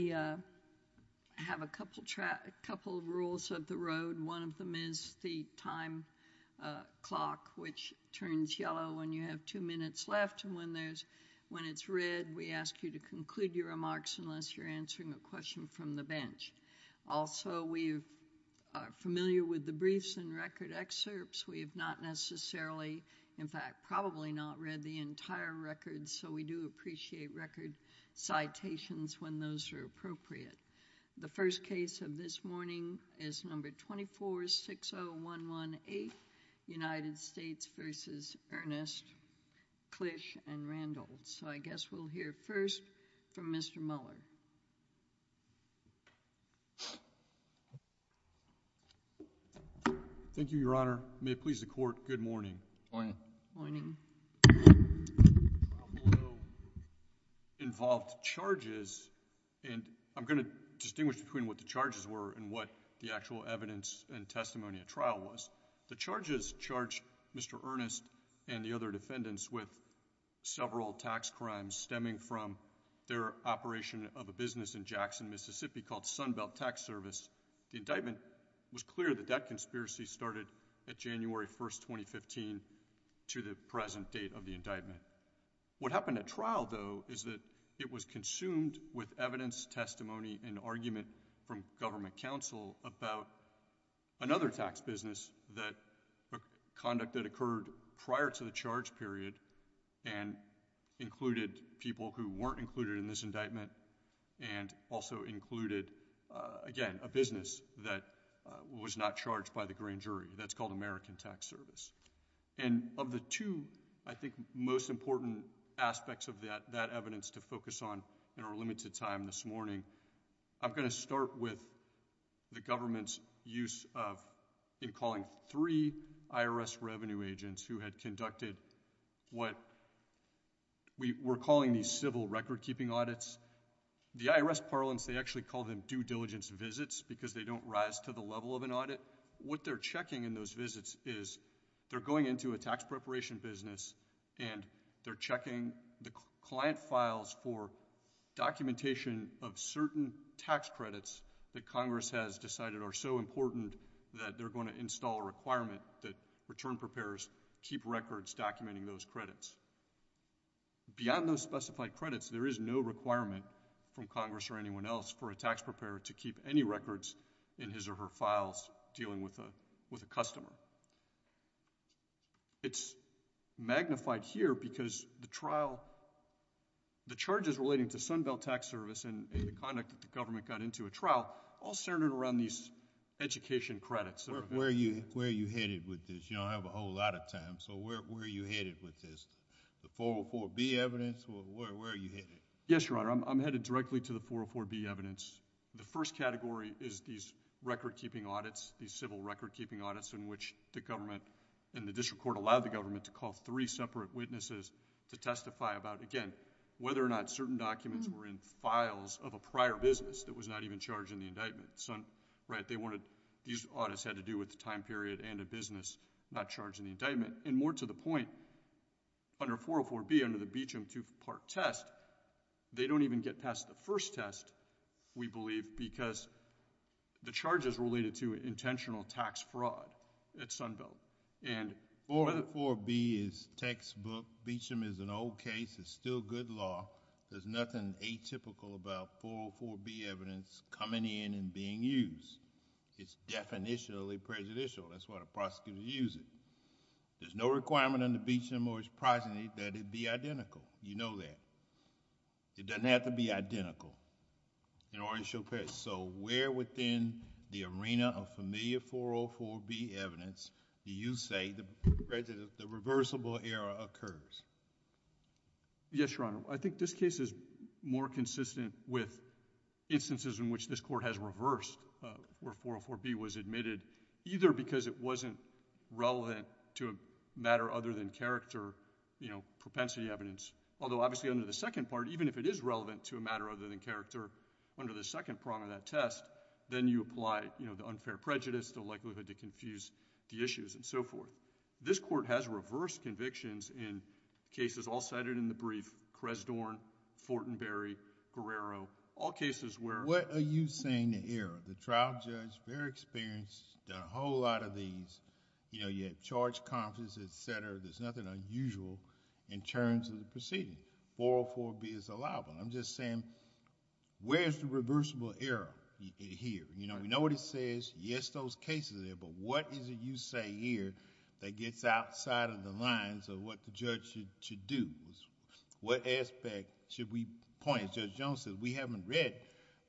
We have a couple of rules of the road. One of them is the time clock, which turns yellow when you have two minutes left, and when it's read, we ask you to conclude your remarks unless you're answering a question from the bench. Also, we are familiar with the briefs and record excerpts. We have not necessarily, in fact, probably not read the entire records, so we do appreciate record citations when those are appropriate. The first case of this morning is No. 2460118, United States v. Earnest, Klisch and Randolph. So I guess we'll hear first from Mr. Mueller. Thank you, Your Honor. May it please the Court, Good morning. The trial below involved charges, and I'm going to distinguish between what the charges were and what the actual evidence and testimony at trial was. The charges charged Mr. Earnest and the other defendants with several tax crimes stemming from their operation of a business in Jackson, Mississippi called Sunbelt Tax Service. The indictment was clear that that conspiracy started at January 1, 2015, to the present date of the indictment. What happened at trial, though, is that it was consumed with evidence, testimony, and argument from government counsel about another tax business, a conduct that occurred prior to the charge period, and included people who weren't included in this indictment, and also included, again, a business that was not charged by the grand jury. That's called American Tax Service. And of the two, I think, most important aspects of that evidence to focus on in our limited time this morning, I'm going to start with the government's use of, in calling three IRS revenue agents who had conducted what we're calling these civil record-keeping audits. The IRS parlance, they actually call them due diligence visits because they don't rise to the level of an audit. What they're checking in those visits is they're going into a tax preparation business, and they're checking the client files for documentation of certain tax credits that Congress has decided are so important that they're going to install a requirement that return preparers keep records documenting those credits. Beyond those specified credits, there is no requirement from Congress or anyone else for a tax preparer to keep any records in his or her files dealing with a customer. It's magnified here because the trial... the charges relating to Sunbelt Tax Service and the conduct that the government got into a trial all centered around these education credits. Where are you headed with this? You don't have a whole lot of time, so where are you headed with this? The 404B evidence, or where are you headed? Yes, Your Honor, I'm headed directly to the 404B evidence. The first category is these record-keeping audits, these civil record-keeping audits in which the government and the district court allowed the government to call three separate witnesses to testify about, again, whether or not certain documents were in files of a prior business that was not even charged in the indictment. These audits had to do with the time period and a business not charged in the indictment. More to the point, under 404B, under the Beecham two-part test, they don't even get past the first test, we believe, because the charges related to intentional tax fraud at Sunbelt. 404B is textbook. Beecham is an old case. It's still good law. There's nothing atypical about 404B evidence coming in and being used. It's definitionally prejudicial. That's why the prosecutors use it. There's no requirement under Beecham or his progeny that it be identical. You know that. It doesn't have to be identical in order to show fairness, so where within the arena of familiar 404B evidence do you say the reversible error occurs? Yes, Your Honor. I think this case is more consistent with instances in which this Court has reversed where 404B was admitted, either because it wasn't relevant to a matter other than character, you know, propensity evidence, although obviously under the second part, even if it is relevant to a matter other than character under the second prong of that test, then you apply, you know, the unfair prejudice, the likelihood to confuse the issues and so forth. This Court has reversed convictions in cases all cited in the brief, Cresdorne, Fortenberry, Guerrero, all cases where... What are you saying the error? The trial judge, very experienced, done a whole lot of these, you know, you have charge conference, et cetera. There's nothing unusual in terms of the proceeding. 404B is allowable. I'm just saying, where's the reversible error here? You know what it says? Yes, those cases are there, but what is it you say here that gets outside of the lines of what the judge should do? What aspect should we point? As Judge Jones said, we haven't read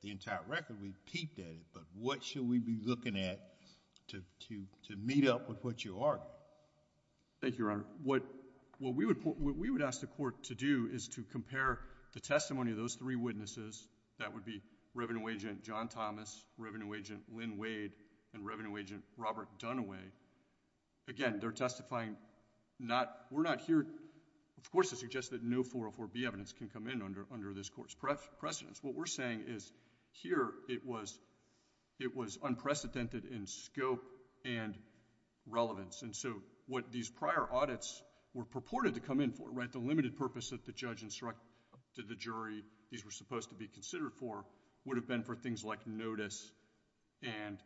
the entire record. We peeped at it, but what should we be looking at to meet up with what you argue? Thank you, Your Honor. What we would ask the Court to do is to compare the testimony of those three witnesses, that would be Revenue Agent John Thomas, Revenue Agent Lynn Wade, and Revenue Agent Robert Dunaway. Again, they're testifying... we're not here... of course it suggests that no 404B evidence can come in under this Court's precedence. What we're saying is here it was unprecedented in scope and relevance, and so what these prior audits were purported to come in for, right, the limited purpose that the judge instructed the jury these were supposed to be considered for, would have been for things like notice and,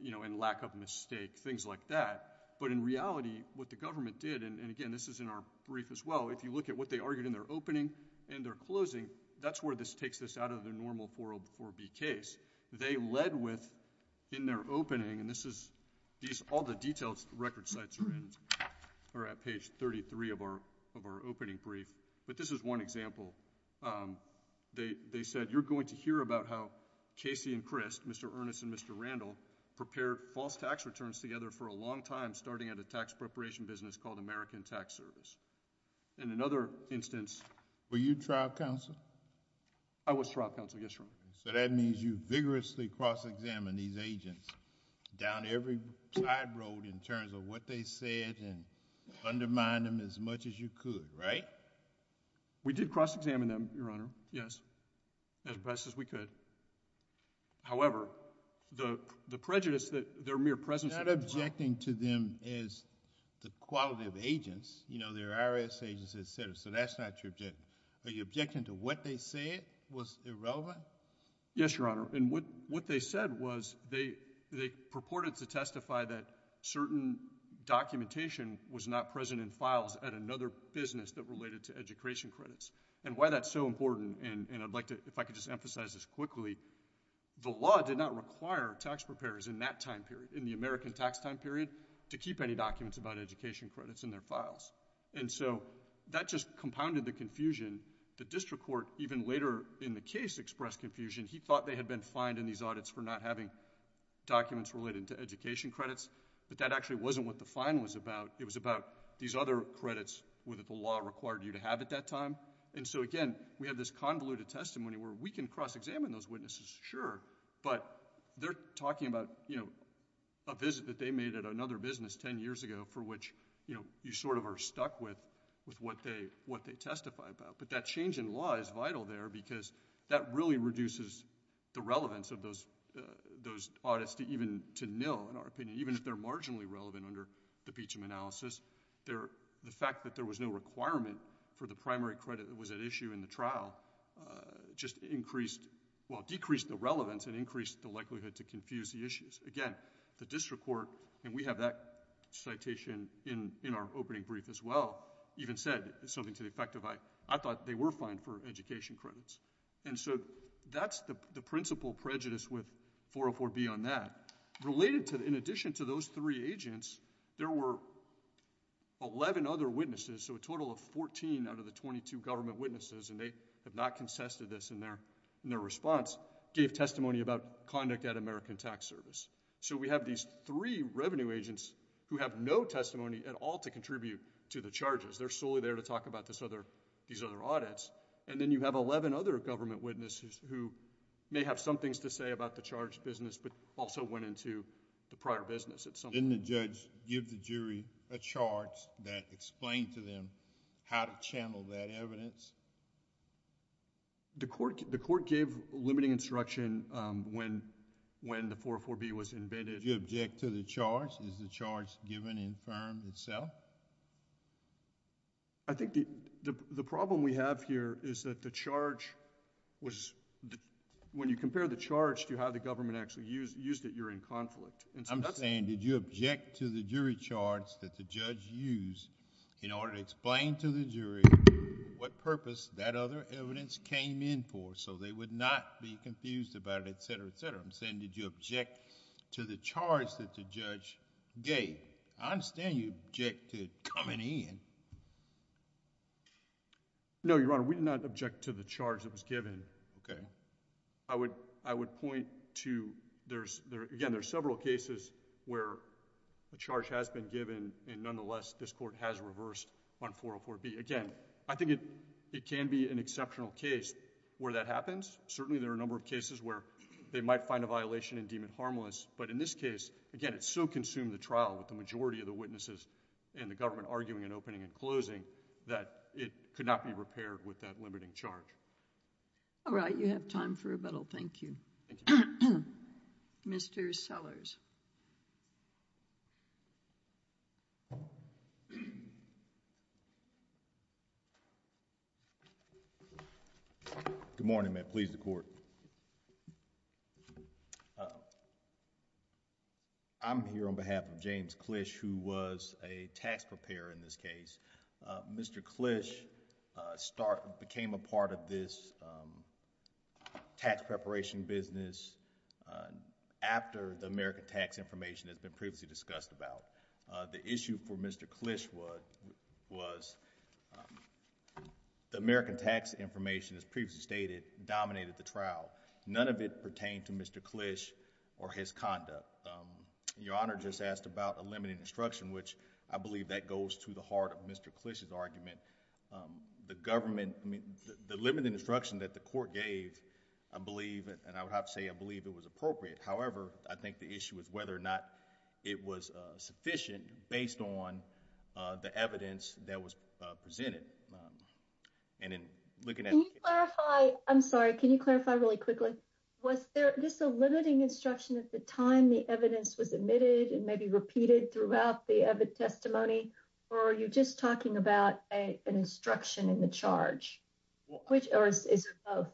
you know, and lack of mistake, things like that. But in reality, what the government did, and again, this is in our brief as well, if you look at what they argued in their opening and their closing, that's where this takes this out of the normal 404B case. They led with, in their opening, and this is... all the detailed record sites are at page 33 of our opening brief, but this is one example. They said, you're going to hear about how Casey and Crist, Mr. Ernest and Mr. Randall, prepared false tax returns together for a long time, starting at a tax preparation business called American Tax Service. And another instance... Were you trial counsel? I was trial counsel, yes, Your Honor. So that means you vigorously cross-examined these agents down every side road in terms of what they said and undermined them as much as you could, right? We did cross-examine them, Your Honor, yes, as best as we could. However, the prejudice that their mere presence... You're not objecting to them as the qualitative agents, you know, they're IRS agents, et cetera, so that's not your objective. Are you objecting to what they said was irrelevant? Yes, Your Honor. And what they said was they purported to testify that certain documentation was not present in files at another business that related to education credits. And why that's so important, and I'd like to... if I could just emphasize this quickly, the law did not require tax preparers in that time period, in the American tax time period, to keep any documents about education credits in their files. And so, that just compounded the confusion. The district court, even later in the case, expressed confusion. He thought they had been fined in these audits for not having documents related to education credits, but that actually wasn't what the fine was about. It was about these other credits that the law required you to have at that time. And so, again, we have this convoluted testimony where we can cross-examine those witnesses, sure, but they're talking about, you know, a visit that they made at another business ten years ago for which, you know, you sort of are stuck with what they testify about. But that change in law is vital there because that really reduces the relevance of those audits to even nil, in our opinion, even if they're marginally relevant under the Beecham analysis. The fact that there was no requirement for the primary credit that was at issue in the trial just increased... well, decreased the relevance and increased the likelihood to confuse the issues. Again, the district attorney in that citation in our opening brief as well even said something to the effect of I thought they were fined for education credits. And so, that's the principal prejudice with 404B on that. Related to... in addition to those three agents, there were eleven other witnesses, so a total of fourteen out of the twenty-two government witnesses, and they have not contested this in their response, gave testimony about conduct at American Tax Service. So, we have these three revenue agents who have no testimony at all to contribute to the charges. They're solely there to talk about these other audits. And then, you have eleven other government witnesses who may have some things to say about the charge business but also went into the prior business. Didn't the judge give the jury a charge that explained to them how to channel that evidence? The court gave limiting instruction when the 404B was invented. Did you object to the charge? Is the charge given in firm itself? I think the problem we have here is that the charge was... when you compare the charge to how the government actually used it, you're in conflict. I'm saying did you object to the jury charge that the judge used in order to explain to the jury what purpose that other evidence came in for, so they would not be confused about it, et cetera, et cetera. I'm saying did you object to the charge that the judge gave? I understand you object to it coming in. No, Your Honor. We did not object to the charge that was given. I would point to... again, there are several cases where a charge has been given and nonetheless this court has reversed on 404B. Again, I think it can be an exceptional case where that happens. Certainly there are a number of cases where they might find a violation and deem it harmless, but in this case, again, it so consumed the trial with the majority of the witnesses and the government arguing and opening and closing that it could not be repaired with that limiting charge. All right. You have time for rebuttal. Thank you. Mr. Sellers. Good morning, ma'am. Please, the court. I'm here on behalf of James Clish who was a tax preparation business after the American tax information that's been previously discussed about. The issue for Mr. Clish was the American tax information, as previously stated, dominated the trial. None of it pertained to Mr. Clish or his conduct. Your Honor just asked about a limiting instruction, which I believe that goes to the heart of Mr. Clish's argument. The government, I mean, the limiting instruction that the court gave, I believe, and I would have to say, I believe it was appropriate. However, I think the issue is whether or not it was sufficient based on the evidence that was presented. And in looking at... Can you clarify? I'm sorry. Can you clarify really quickly? Was there just a limiting instruction at the time the evidence was admitted and maybe repeated throughout the evidence testimony? Or are you just talking about an instruction in the charge? Or is it both?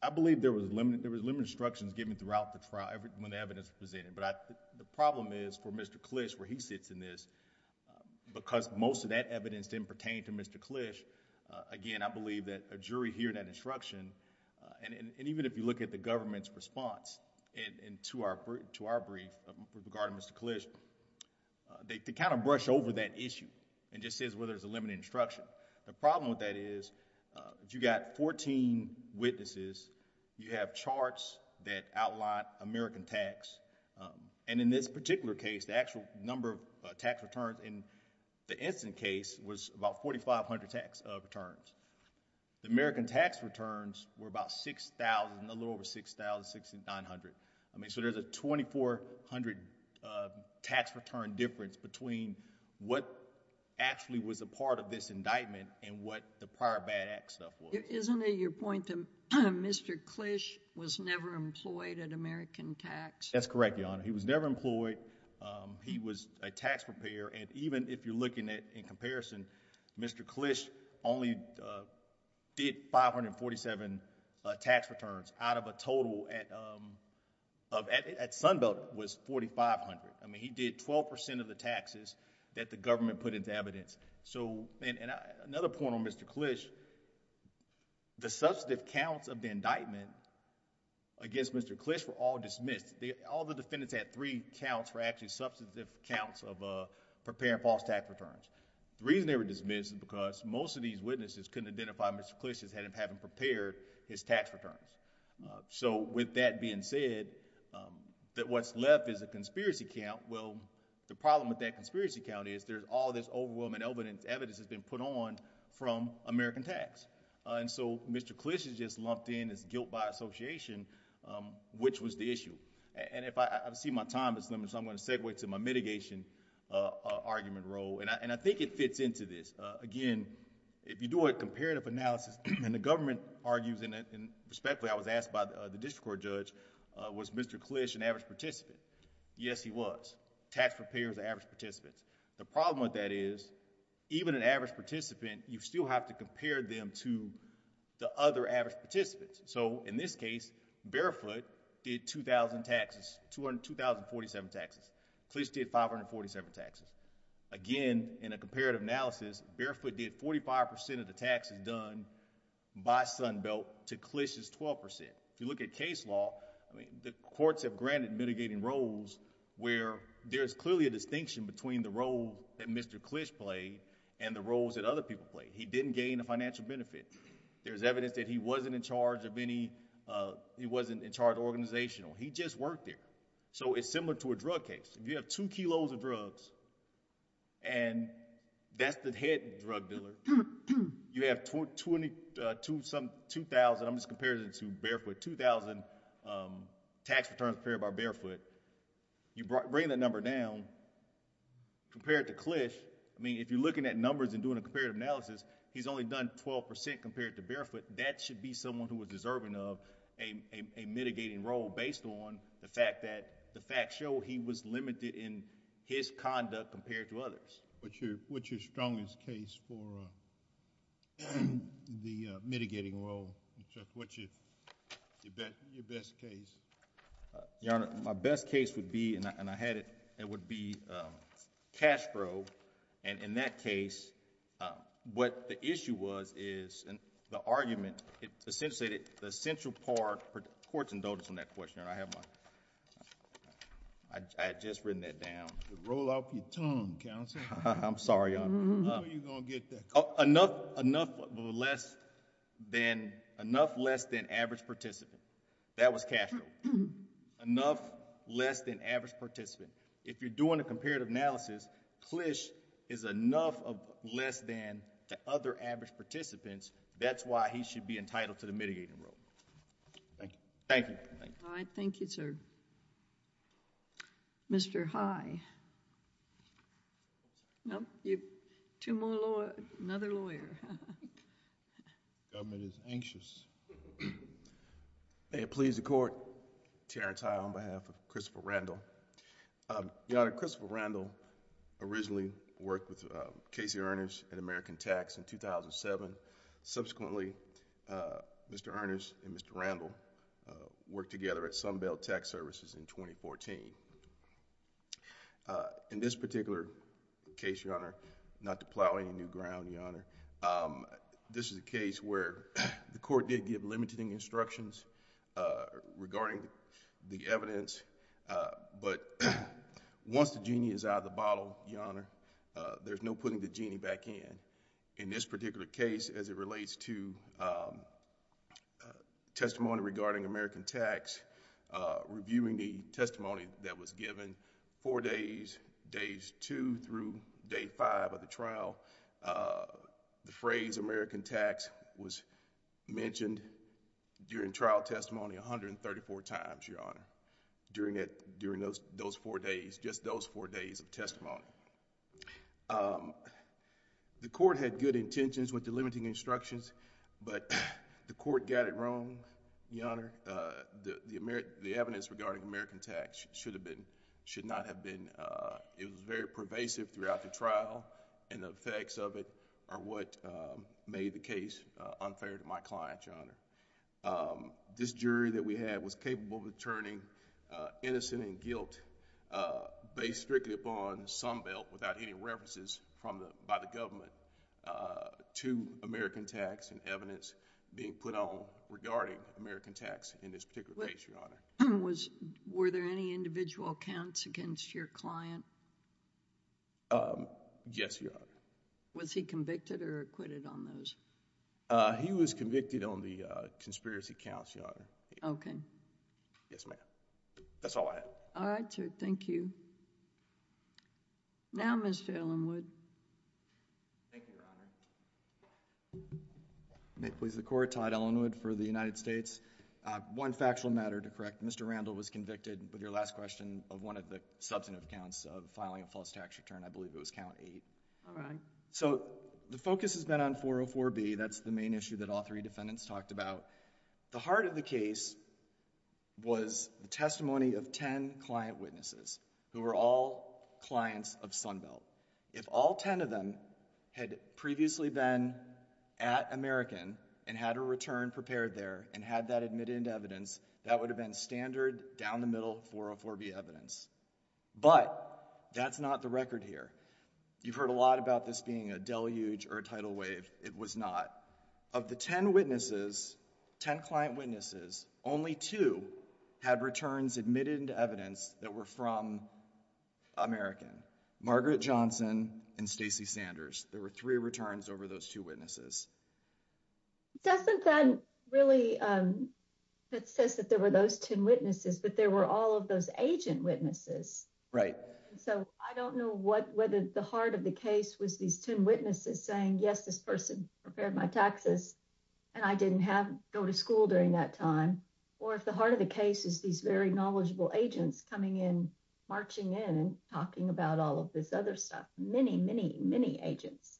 I believe there was limiting instructions given throughout the trial when the evidence was presented. But the problem is for Mr. Clish, where he sits in this, because most of that evidence didn't pertain to Mr. Clish, again, I believe that a jury hearing that instruction, and even if you look at the government's response to our brief regarding Mr. Clish, they kind of brush over that issue and just says, well, there's a limiting instruction. The problem with that is, if you've got fourteen witnesses, you have charts that outline American tax. And in this particular case, the actual number of tax returns in the incident case was about 4,500 tax returns. The American tax returns were about 6,000, a little over 6,000, 6,900. I mean, so there's a 2,400 tax return difference between what actually was a part of this indictment and what the prior bad act stuff was. Isn't it your point that Mr. Clish was never employed at American tax? That's correct, Your Honor. He was never employed. He was a tax preparer. And even if you're looking at it in comparison, Mr. Clish only did 547 tax returns out of a total at Sunbelt was 4,500. I mean, he did 12% of the taxes that the government put into evidence. Another point on Mr. Clish, the substantive counts of the indictment against Mr. Clish were all dismissed. All the defendants had three counts for actually substantive counts of preparing false tax returns. The reason they were dismissed is because most of these witnesses couldn't identify Mr. Clish as having prepared his tax returns. So with that being said, that what's left is a conspiracy count. Well, the problem with that conspiracy count is there's all this overwhelming evidence that's been put on from American tax. And so Mr. Clish has just lumped in his guilt by association, which was the issue. I see my time is limited, so I'm going to segue to my mitigation argument role. I think it fits into this. Again, if you do a comparative analysis and the government argues, and respectfully I was asked by the district court judge, was Mr. Clish an average participant? Yes, he was. Tax preparers are average participants. The problem with that is even an average participant, you still have to compare them to the other average participants. So in this case, Barefoot did 2,000 taxes, 2,047 taxes. Clish did 547 taxes. Again, in a comparative analysis, Barefoot did 45% of the taxes done by Sunbelt to Clish's 12%. If you look at case law, the courts have granted mitigating roles where there's clearly a distinction between the role that Mr. Clish played and the roles that other people played. He didn't gain a financial benefit. There's no reason to charge organizational. He just worked there. So it's similar to a drug case. If you have two kilos of drugs, and that's the head drug dealer, you have 2,000, I'm just comparing it to Barefoot, 2,000 tax returns prepared by Barefoot. You bring that number down, compared to Clish, I mean, if you're looking at numbers and doing a comparative analysis, he's only done 12% compared to Barefoot. That should be someone who was deserving of a mitigating role based on the fact that the facts show he was limited in his conduct compared to others. What's your strongest case for the mitigating role? What's your best case? Your Honor, my best case would be, and I had it, it would be Castro. And in that case, what the issue was is, and the argument, essentially, the central part, courts indulged on that question, and I have my, I had just written that down. Roll off your tongue, Counselor. I'm sorry, Your Honor. How are you going to get that? Enough less than average participant. That was Castro. Enough less than average participant. If you're doing a comparative analysis, Clish is enough of less than the other average participants. That's why he should be entitled to the mitigating role. Thank you. Thank you. All right. Thank you, sir. Mr. High. No, you have two more lawyers, another lawyer. The government is anxious. May it please the Court, Terrence High on behalf of Christopher Randall. Your Honor, Christopher Randall originally worked with Casey Earnest at American Tax in 2007. Subsequently, Mr. Earnest and Mr. Randall worked together at Sunbelt Tax Services in 2014. In this particular case, Your Honor, not to plow any new ground, Your Honor, this is a case where the Court did give limiting instructions regarding the evidence, but once the genie is out of the bottle, Your Honor, there's no putting the genie back in. In this particular case, as it relates to testimony regarding American Tax, reviewing the testimony that was given four days, days two through day five of the trial, the phrase American Tax was mentioned during trial testimony 134 times, Your Honor, during those four days, just those four days of testimony. The Court had good intentions with the limiting instructions, but the Court got it wrong, Your Honor. The evidence regarding American Tax should not have been... It was very pervasive throughout the trial and the effects of it are what made the case unfair to my client, Your Honor. This jury that we had was capable of deterring innocent and guilt based strictly upon Sunbelt without any references by the government to American Tax and evidence being put on regarding American Tax in this particular case, Your Honor. Were there any individual counts against your client? Yes, Your Honor. Was he convicted or acquitted on those? He was convicted on the conspiracy counts, Your Honor. Okay. Yes, ma'am. That's all I have. All right, sir. Thank you. Now, Mr. Ellenwood. Thank you, Your Honor. May it please the Court, Todd Ellenwood for the United States. One factual matter to correct. Mr. Randall was convicted with your last question of one of the substantive counts of filing a false tax return. I believe it was count eight. All right. So, the focus has been on 404B. That's the main issue that all three defendants talked about. The heart of the case was the testimony of ten client witnesses who were all clients of Sunbelt. If all ten of them had previously been at American and had a return prepared there and had that admitted into evidence, that would have been standard, down the middle, 404B evidence. But that's not the record here. You've heard a lot about this being a deluge or a tidal wave. It was not. Of the ten witnesses, ten client witnesses, only two had returns admitted into evidence that were from American. Margaret Johnson and Stacey Sanders. There were three returns over those two witnesses. Doesn't that really, it says that there were those ten witnesses, but there were all of those agent witnesses. Right. So, I don't know whether the heart of the case was these ten witnesses saying, yes, this person prepared my taxes, and I didn't go to school during that time. Or if the heart of the case is these very knowledgeable agents coming in, marching in and talking about all of this other stuff. Many, many, many agents.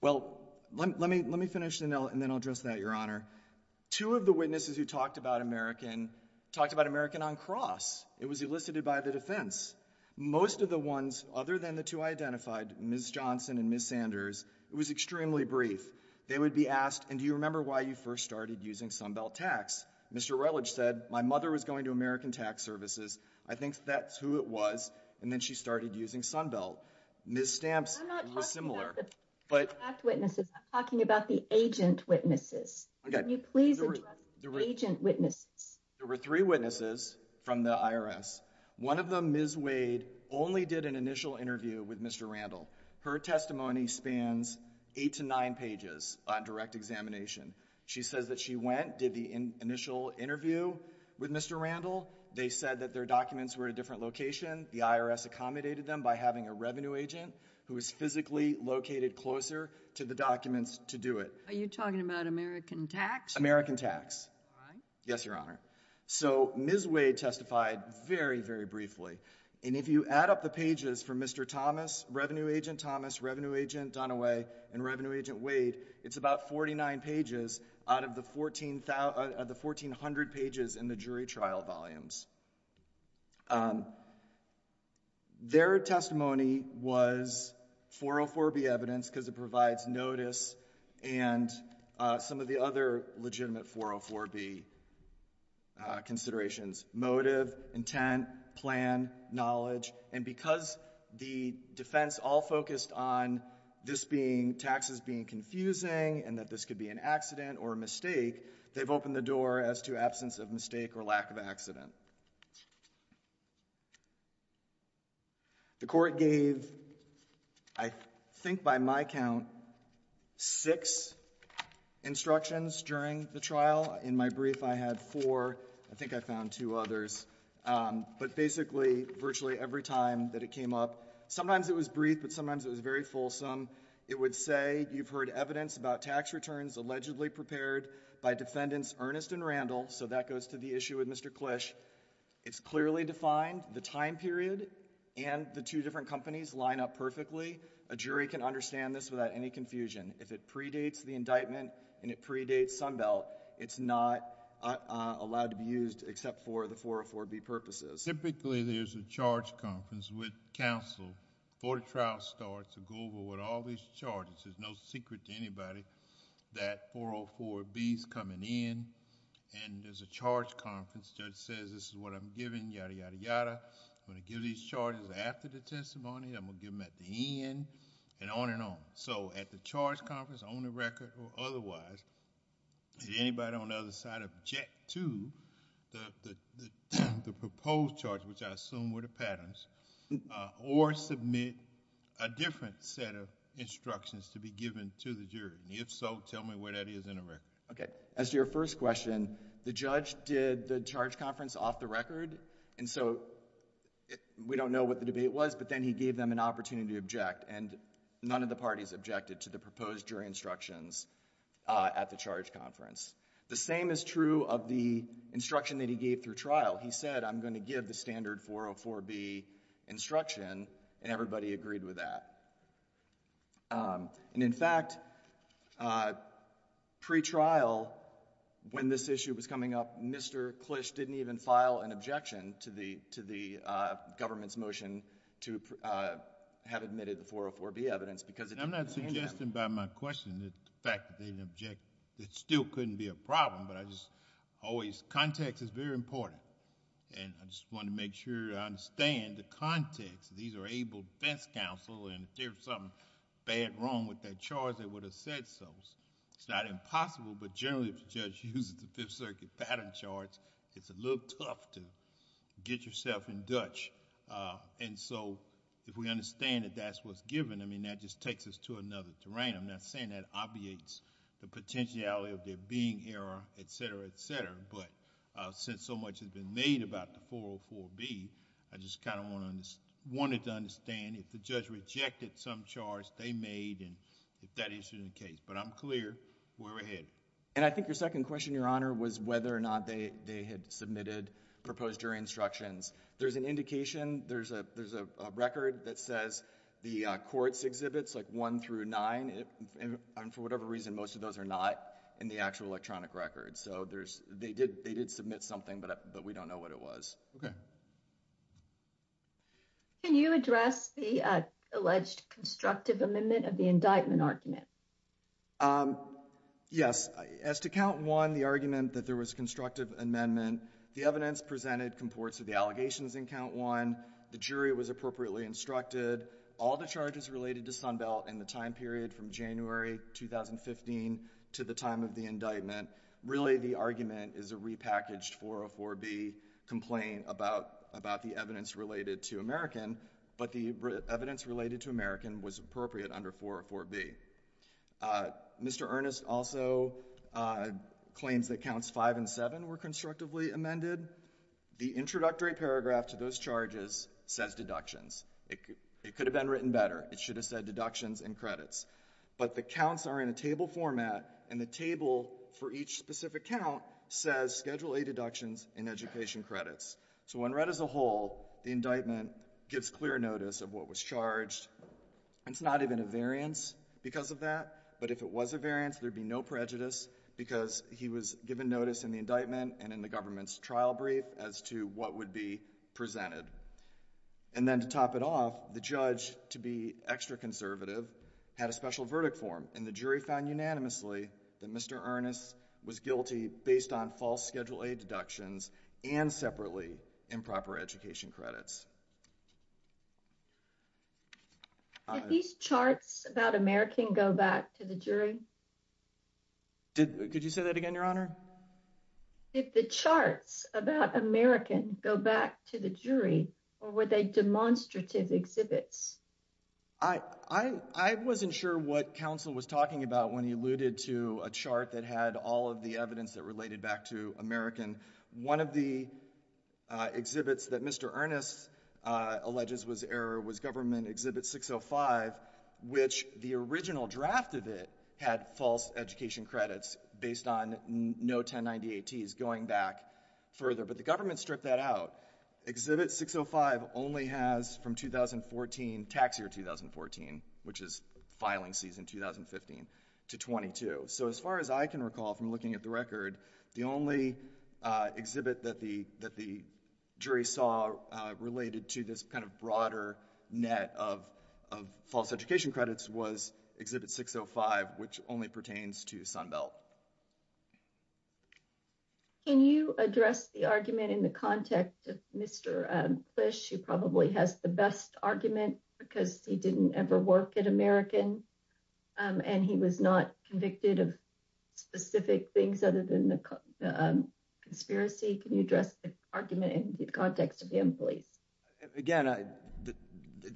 Well, let me finish and then I'll address that, Your Honor. Two of the witnesses who talked about American talked about American on cross. It was elicited by the defense. Most of the ones other than the two I identified, Ms. Johnson and Ms. Sanders, it was extremely brief. They would be asked, and do you remember why you first started using Sunbelt Tax? Mr. Relich said, my mother was going to American Tax Services. I think that's who it was. And then she started using Sunbelt. Ms. Stamps was similar. I'm not talking about the fact witnesses. I'm talking about the agent witnesses. Can you please address the agent witnesses? There were three witnesses from the IRS. One of them, Ms. Wade, only did an initial interview with Mr. Randall. Her testimony spans eight to nine pages on direct examination. She says that she went, did the initial interview with Mr. Randall. They said that their documents were at a different location. The IRS accommodated them by having a revenue agent who was physically located closer to the documents to do it. Are you talking about American Tax? American Tax. Why? Yes, Your Honor. So, Ms. Wade testified very, very briefly. And if you add up the pages for Mr. Thomas, Revenue Agent Thomas, Revenue Agent Dunaway, and Revenue Agent Wade, it's about 49 pages out of the 1,400 pages in the jury trial volumes. Their testimony was 404B evidence because it provides notice and some of the other legitimate 404B considerations. Motive, intent, plan, knowledge. And because the defense all focused on this being taxes being confusing and that this could be an accident or a mistake, they've opened the door as to absence of mistake or lack of accident. The court gave, I think by my count, six instructions during the trial. In my brief, I had four. I think I found two others. But basically, virtually every time that it came up, sometimes it was brief, but sometimes it was very fulsome. It would say, you've heard evidence about tax returns allegedly prepared by Defendants Ernest and Randall. So that goes to the issue with Mr. Clish. It's clearly defined. The time period and the two different companies line up perfectly. A jury can understand this without any confusion. If it predates the indictment and it predates Sunbelt, it's not allowed to be used except for the 404B purposes. Typically, there's a charge conference with counsel before the trial starts to go over with all these charges. There's no secret to anybody that 404B's coming in and there's a charge conference. Judge says, this is what I'm giving, yada, yada, yada. I'm going to give these charges after the testimony. I'm going to give them at the end and on and on. So at the charge conference, on the record or otherwise, did anybody on the other side object to the proposed charge, which I assume were the patterns, or submit a different set of instructions to be given to the jury? And if so, tell me where that is in the record. As to your first question, the judge did the charge conference off the record, and so we don't know what the debate was, but then he gave them an opportunity to object, and none of the parties objected to the proposed jury instructions at the charge conference. The same is true of the instruction that he gave through trial. He said, I'm going to give the standard 404B instruction, and everybody agreed with that. And in fact, pre-trial, when this issue was coming up, Mr. Clish didn't even file an objection to the government's motion to have admitted the 404B evidence because it didn't contain them. I'm not suggesting by my question that the fact that they didn't object, it still couldn't be a problem, but I just always... If there was something bad wrong with that charge, they would have said so. It's not impossible, but generally, if the judge uses the Fifth Circuit pattern charts, it's a little tough to get yourself in Dutch. And so, if we understand that that's what's given, I mean, that just takes us to another terrain. I'm not saying that obviates the potentiality of there being error, et cetera, et cetera, but since so much has been made about the 404B, I just kind of wanted to understand if the judge rejected some charge they made, and if that issue is the case. But I'm clear where we're headed. And I think your second question, Your Honor, was whether or not they had submitted, proposed jury instructions. There's an indication, there's a record that says the courts exhibits, like 1 through 9, and for whatever reason, most of those are not in the actual electronic record. So, they did submit something, but we don't know what it was. Okay. Can you address the alleged constructive amendment of the indictment argument? Yes. As to Count 1, the argument that there was constructive amendment, the evidence presented comports of the allegations in Count 1, the jury was appropriately instructed, all the charges related to Sunbelt in the time period from January 2015 to the time of the indictment, really the argument is a repackaged 404B complaint about the evidence related to American, but the evidence related to American was appropriate under 404B. Mr. Earnest also claims that Counts 5 and 7 were constructively amended. The introductory paragraph to those charges says deductions. It could have been written better. It should have said deductions and credits. But the counts are in a table format, and the table for each specific count says Schedule A deductions and education credits. So, when read as a whole, the indictment gives clear notice of what was charged. It's not even a variance because of that, but if it was a variance, there'd be no prejudice, because he was given notice in the indictment and in the government's trial brief as to what would be presented. And then to top it off, the judge, to be extra conservative, had a special verdict form, and the jury found unanimously that Mr. Earnest was guilty based on false Schedule A deductions and separately improper education credits. Did these charts about American go back to the jury? Could you say that again, Your Honor? Did the charts about American go back to the jury, or were they demonstrative exhibits? I wasn't sure what counsel was talking about when he alluded to a chart that had all of the evidence that related back to American. One of the exhibits that Mr. Earnest alleges was error was Government Exhibit 605, which the original draft of it had false education credits based on no 1090ATs going back further, but the government stripped that out. Exhibit 605 only has from 2014, tax year 2014, which is filing season 2015, to 22. So, as far as I can recall from looking at the record, the only exhibit that the jury saw related to this kind of broader net of false education credits was Exhibit 605, which only pertains to Sunbelt. Can you address the argument in the context of Mr. Plish, who probably has the best argument because he didn't ever work at American, and he was not convicted of specific things other than the conspiracy? Can you address the argument in the context of him, please? Again,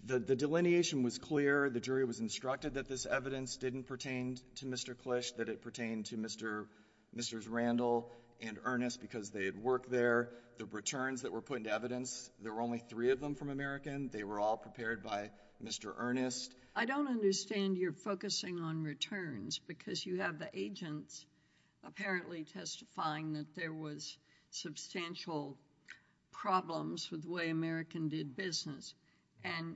the delineation was clear. The jury was instructed that this evidence didn't pertain to Mr. Plish, that it pertained to Mr. Randall and Earnest because they had worked there. The returns that were put into evidence, there were only three of them from American. They were all prepared by Mr. Earnest. I don't understand your focusing on returns because you have the agents apparently testifying that there was substantial problems with the way American did business. And,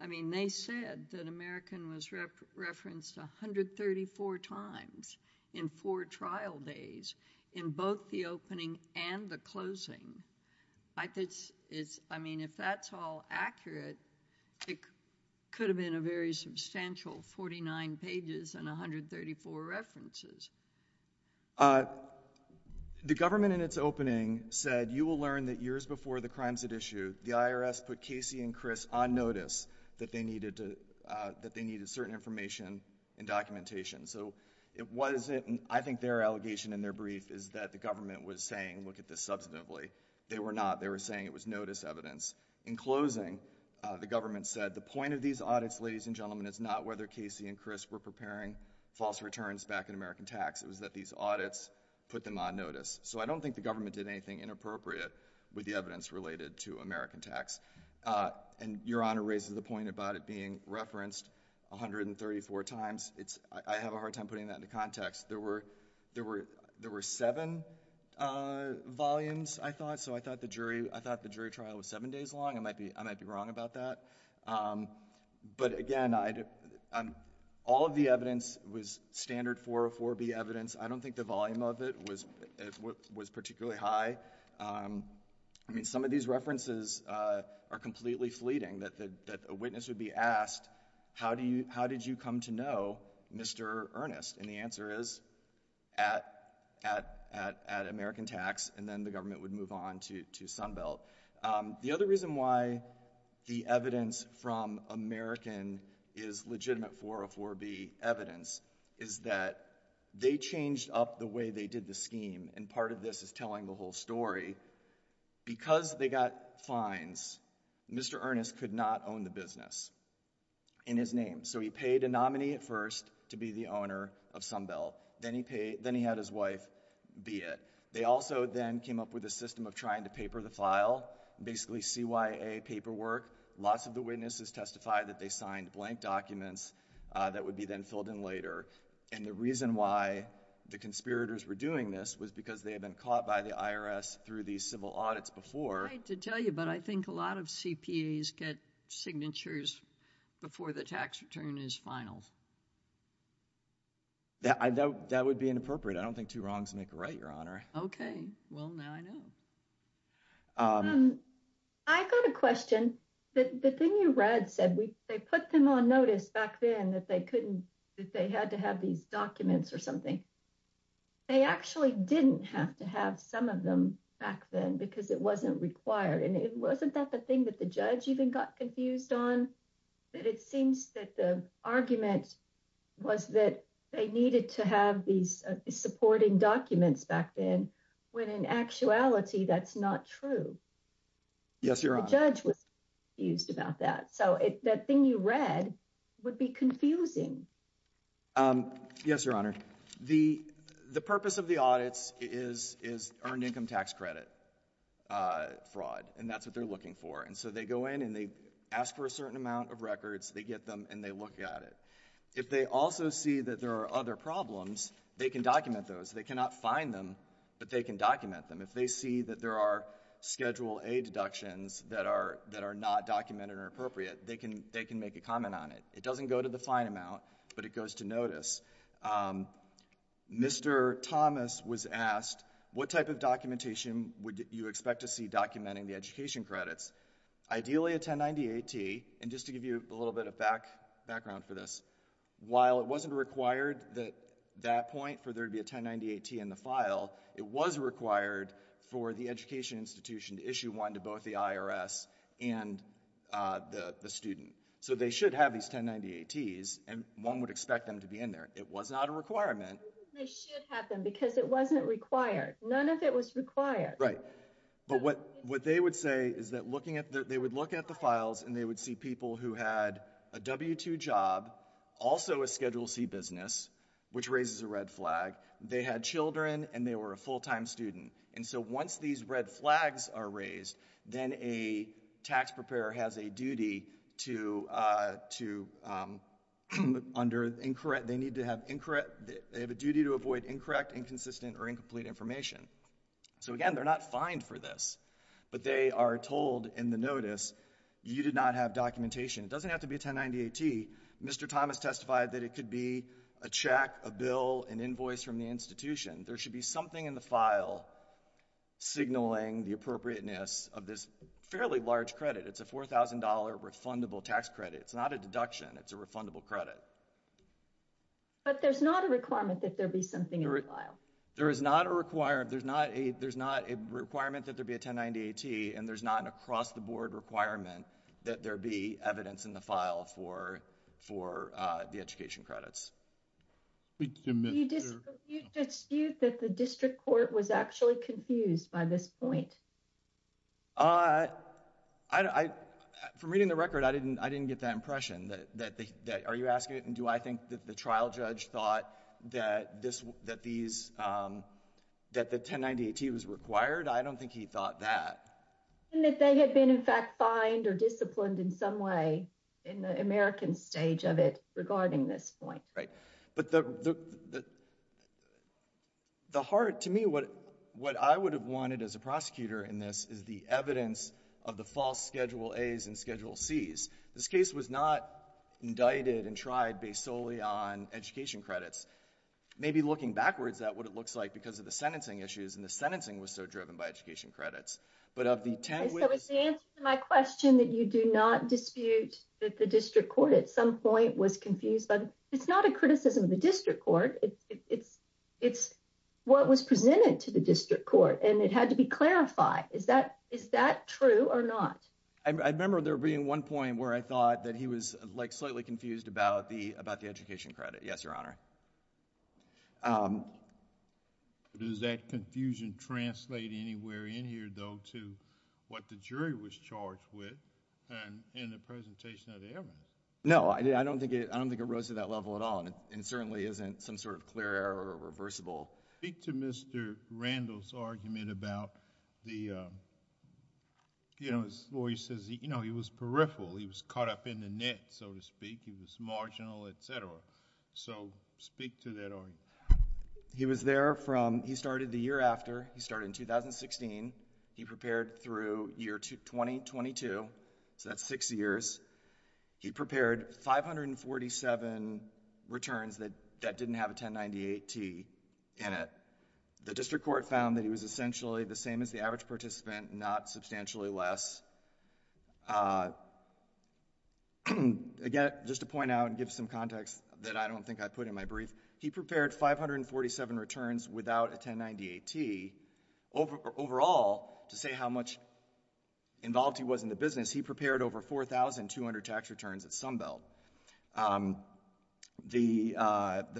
I mean, they said that American was referenced 134 times in four trial days in both the opening and the closing. I mean, if that's all accurate, it could have been a very substantial 49 pages and 134 references. The government in its opening said, you will learn that years before the crimes at issue, the IRS put Casey and Chris on notice that they needed certain information and documentation. I think their allegation in their brief is that the government was saying, look at this substantively. They were not. They were saying it was notice evidence. In closing, the government said, the point of these audits, ladies and gentlemen, is not whether Casey and Chris were preparing false returns back in American tax. It was that these audits put them on notice. So I don't think the government did anything inappropriate with the evidence related to American tax. And Your Honor raises the point about it being referenced 134 times. I have a hard time putting that into context. There were seven volumes, I thought. So I thought the jury trial was seven days long. I might be wrong about that. But, again, all of the evidence was standard 404B evidence. I don't think the volume of it was particularly high. I mean, some of these references are completely fleeting. A witness would be asked, how did you come to know Mr. Earnest? And the answer is, at American tax. And then the government would move on to Sunbelt. The other reason why the evidence from American is legitimate 404B evidence is that they changed up the way they did the scheme. And part of this is telling the whole story. Because they got fines, Mr. Earnest could not own the business in his name. So he paid a nominee at first to be the owner of Sunbelt. Then he had his wife be it. They also then came up with a system of trying to paper the file, basically CYA paperwork. Lots of the witnesses testified that they signed blank documents that would be then filled in later. And the reason why the conspirators were doing this was because they had been caught by the IRS through these civil audits before. I hate to tell you, but I think a lot of CPAs get signatures before the tax return is final. That would be inappropriate. I don't think two wrongs make a right, Your Honor. Okay. Well, now I know. I've got a question. The thing you read said they put them on notice back then that they had to have these documents or something. They actually didn't have to have some of them back then because it wasn't required. And wasn't that the thing that the judge even got confused on? It seems that the argument was that they needed to have these supporting documents back then when in actuality that's not true. Yes, Your Honor. The judge was confused about that. So that thing you read would be confusing. Yes, Your Honor. The purpose of the audits is earned income tax credit fraud. And that's what they're looking for. And so they go in and they ask for a certain amount of records. They get them and they look at it. If they also see that there are other problems, they can document those. They cannot fine them, but they can document them. If they see that there are Schedule A deductions that are not documented or appropriate, they can make a comment on it. It doesn't go to the fine amount, but it goes to notice. Mr. Thomas was asked, what type of documentation would you expect to see documenting the education credits? Ideally a 1090-80. And just to give you a little bit of background for this, while it wasn't required at that point for there to be a 1090-80 in the file, it was required for the education institution to issue one to both the IRS and the student. So they should have these 1090-80s, and one would expect them to be in there. It was not a requirement. They should have them because it wasn't required. None of it was required. Right. But what they would say is that they would look at the files and they would see people who had a W-2 job, also a Schedule C business, which raises a red flag. They had children and they were a full-time student. And so once these red flags are raised, then a tax preparer has a duty to avoid incorrect, inconsistent, or incomplete information. So again, they're not fined for this, but they are told in the notice, you did not have documentation. It doesn't have to be a 1090-80. Mr. Thomas testified that it could be a check, a bill, an invoice from the institution. There should be something in the file signaling the appropriateness of this fairly large credit. It's a $4,000 refundable tax credit. It's not a deduction. It's a refundable credit. But there's not a requirement that there be something in the file. There is not a requirement that there be a 1090-80, and there's not an across-the-board requirement that there be evidence in the file for the education credits. Do you dispute that the district court was actually confused by this point? From reading the record, I didn't get that impression. Are you asking it, and do I think that the trial judge thought that the 1090-80 was required? I don't think he thought that. And that they had been, in fact, fined or disciplined in some way in the American stage of it regarding this point. Right. But the heart, to me, what I would have wanted as a prosecutor in this is the evidence of the false Schedule A's and Schedule C's. This case was not indicted and tried based solely on education credits. Maybe looking backwards at what it looks like because of the sentencing issues, and the sentencing was so driven by education credits. So it's the answer to my question that you do not dispute that the district court at some point was confused. But it's not a criticism of the district court. It's what was presented to the district court, and it had to be clarified. Is that true or not? I remember there being one point where I thought that he was slightly confused about the education credit. Yes, Your Honor. Does that confusion translate anywhere in here, though, to what the jury was charged with in the presentation of the evidence? No, I don't think it rose to that level at all, and it certainly isn't some sort of clear or reversible. Speak to Mr. Randall's argument about his lawyer says he was peripheral. He was caught up in the net, so to speak. He was marginal, et cetera. So speak to that argument. He started the year after. He started in 2016. He prepared through year 2022, so that's six years. He prepared 547 returns that didn't have a 1098-T in it. The district court found that he was essentially the same as the average participant, not substantially less. Again, just to point out and give some context that I don't think I put in my brief, he prepared 547 returns without a 1098-T. Overall, to say how much involved he was in the business, he prepared over 4,200 tax returns at Sunbelt. The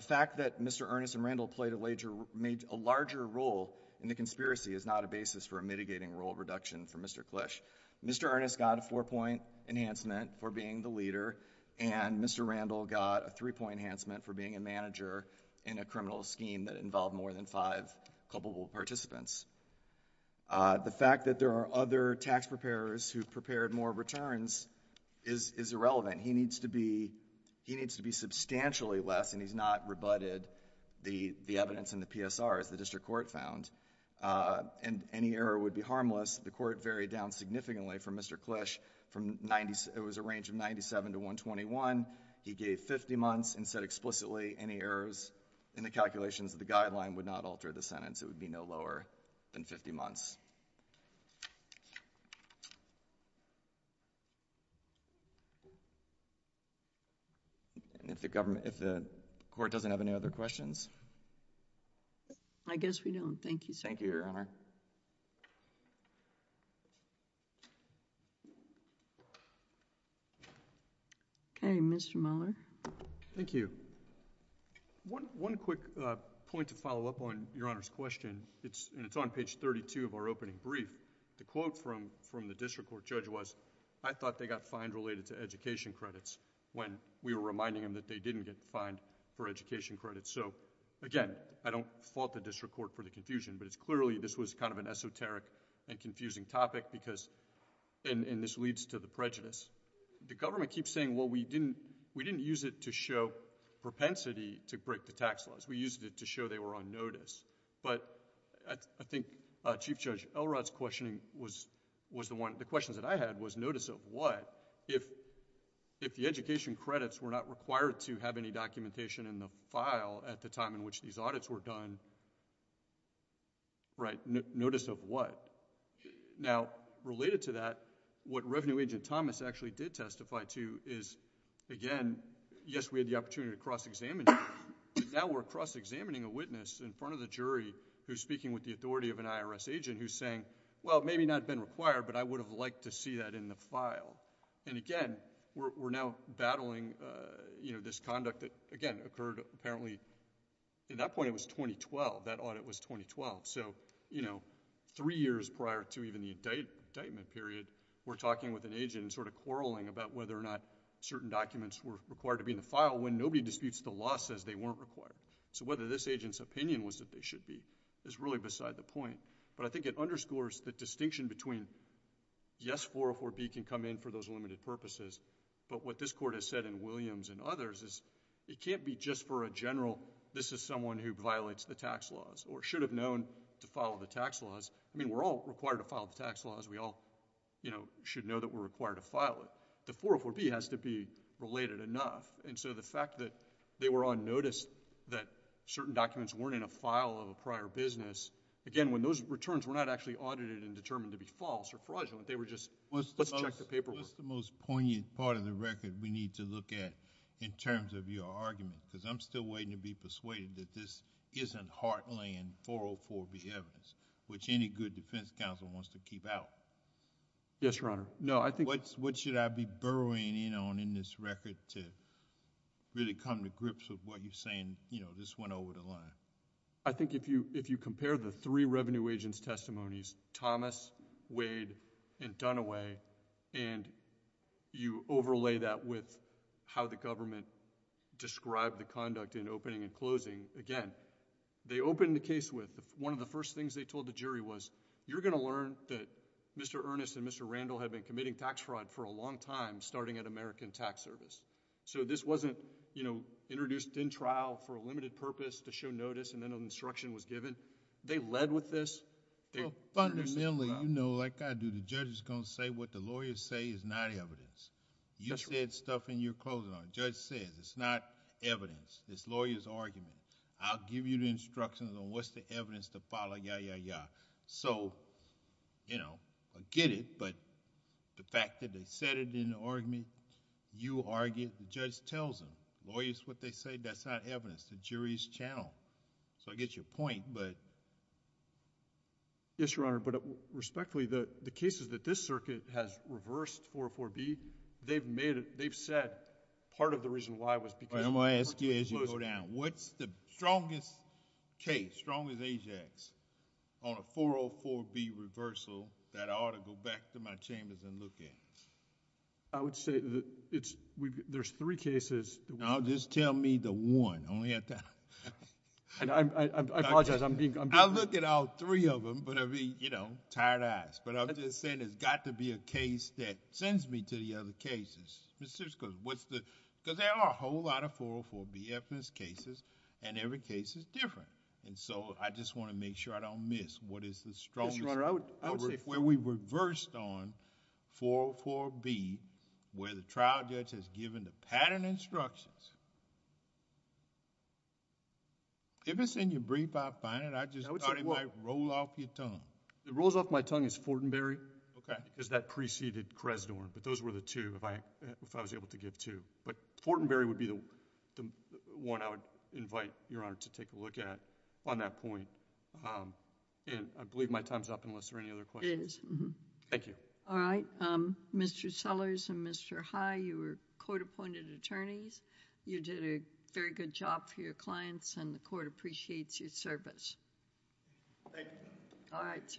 fact that Mr. Earnest and Randall played a larger role in the conspiracy is not a basis for a mitigating role reduction for Mr. Clish. Mr. Earnest got a four-point enhancement for being the leader, and Mr. Randall got a three-point enhancement for being a manager in a criminal scheme that involved more than five culpable participants. The fact that there are other tax preparers who prepared more returns is irrelevant. He needs to be substantially less, and he's not rebutted the evidence in the PSR, as the district court found. Any error would be harmless. The court varied down significantly from Mr. Clish. It was a range of 97 to 121. He gave 50 months and said explicitly any errors in the calculations of the guideline would not alter the sentence. It would be no lower than 50 months. And if the court doesn't have any other questions? I guess we don't. Thank you, sir. Thank you, Your Honor. Okay, Mr. Mueller. Thank you. One quick point to follow up on Your Honor's question, and it's on page 32 of our opening brief. The quote from the district court judge was, I thought they got fined related to education credits when we were reminding them that they didn't get fined for education credits. So, again, I don't fault the district court for the confusion, but it's clearly this was kind of an esoteric and confusing topic, and this leads to the prejudice. The government keeps saying, well, we didn't use it to show propensity to break the tax laws. We used it to show they were on notice. But I think Chief Judge Elrod's questioning was the one... at the time in which these audits were done. Notice of what? Now, related to that, what Revenue Agent Thomas actually did testify to is, again, yes, we had the opportunity to cross-examine, but now we're cross-examining a witness in front of the jury who's speaking with the authority of an IRS agent who's saying, well, it may not have been required, but I would have liked to see that in the file. And again, we're now battling, you know, this conduct that, again, occurred apparently, at that point it was 2012. That audit was 2012. So, you know, three years prior to even the indictment period, we're talking with an agent and sort of quarreling about whether or not certain documents were required to be in the file when nobody disputes the law says they weren't required. So whether this agent's opinion was that they should be is really beside the point. But I think it underscores the distinction between, yes, 404B can come in for those limited purposes, but what this Court has said in Williams and others is it can't be just for a general, this is someone who violates the tax laws or should have known to follow the tax laws. I mean, we're all required to follow the tax laws. We all, you know, should know that we're required to file it. The 404B has to be related enough. And so the fact that they were on notice that certain documents weren't in a file of a prior business, again, when those returns were not actually audited and determined to be false or fraudulent, they were just, let's check the paperwork. What's the most poignant part of the record we need to look at in terms of your argument? Because I'm still waiting to be persuaded that this isn't heartland 404B evidence, which any good defense counsel wants to keep out. Yes, Your Honor. No, I think... What should I be burrowing in on in this record to really come to grips with what you're saying, you know, this went over the line? I think if you compare the three revenue agents' testimonies, Thomas, Wade, and Dunaway, and you overlay that with how the government described the conduct in opening and closing, again, they opened the case with one of the first things they told the jury was, you're going to learn that Mr. Earnest and Mr. Randall have been committing tax fraud for a long time starting at American Tax Service. This wasn't introduced in trial for a limited purpose to show notice and then an instruction was given. They led with this. Fundamentally, you know, like I do, the judge is going to say what the lawyers say is not evidence. You said stuff in your closing argument. The judge says it's not evidence. It's the lawyer's argument. I'll give you the instructions on what's the evidence to follow, yeah, yeah, yeah. So, you know, I get it, but the fact that they said it in the argument, you argue, the judge tells them. Lawyers, what they say, that's not evidence. The jury's channel. So I get your point, but... Yes, Your Honor, but respectfully, the cases that this circuit has reversed, 404B, they've made it, they've said part of the reason why was because... All right, I'm going to ask you as you go down. What's the strongest case, strongest AJAX on a 404B reversal that I ought to go back to my chambers and look at? I would say there's three cases... No, just tell me the one. I apologize, I'm being... I'll look at all three of them, but I'll be, you know, tired eyes, but I'm just saying there's got to be a case that sends me to the other cases. Because there are a whole lot of 404B evidence cases, and every case is different, and so I just want to make sure I don't miss what is the strongest... Yes, Your Honor, I would say... Where we reversed on 404B, where the trial judge has given the pattern instructions. If it's in your brief, I'll find it. I just thought it might roll off your tongue. It rolls off my tongue as Fortenberry. Because that preceded Cresdor, but those were the two, if I was able to give two. But Fortenberry would be the one I would invite Your Honor to take a look at on that point, and I believe my time is up unless there are any other questions. It is. Thank you. All right. Mr. Sellers and Mr. High, you were court-appointed attorneys. You did a very good job for your clients, and the court appreciates your service. Thank you. All right, sir.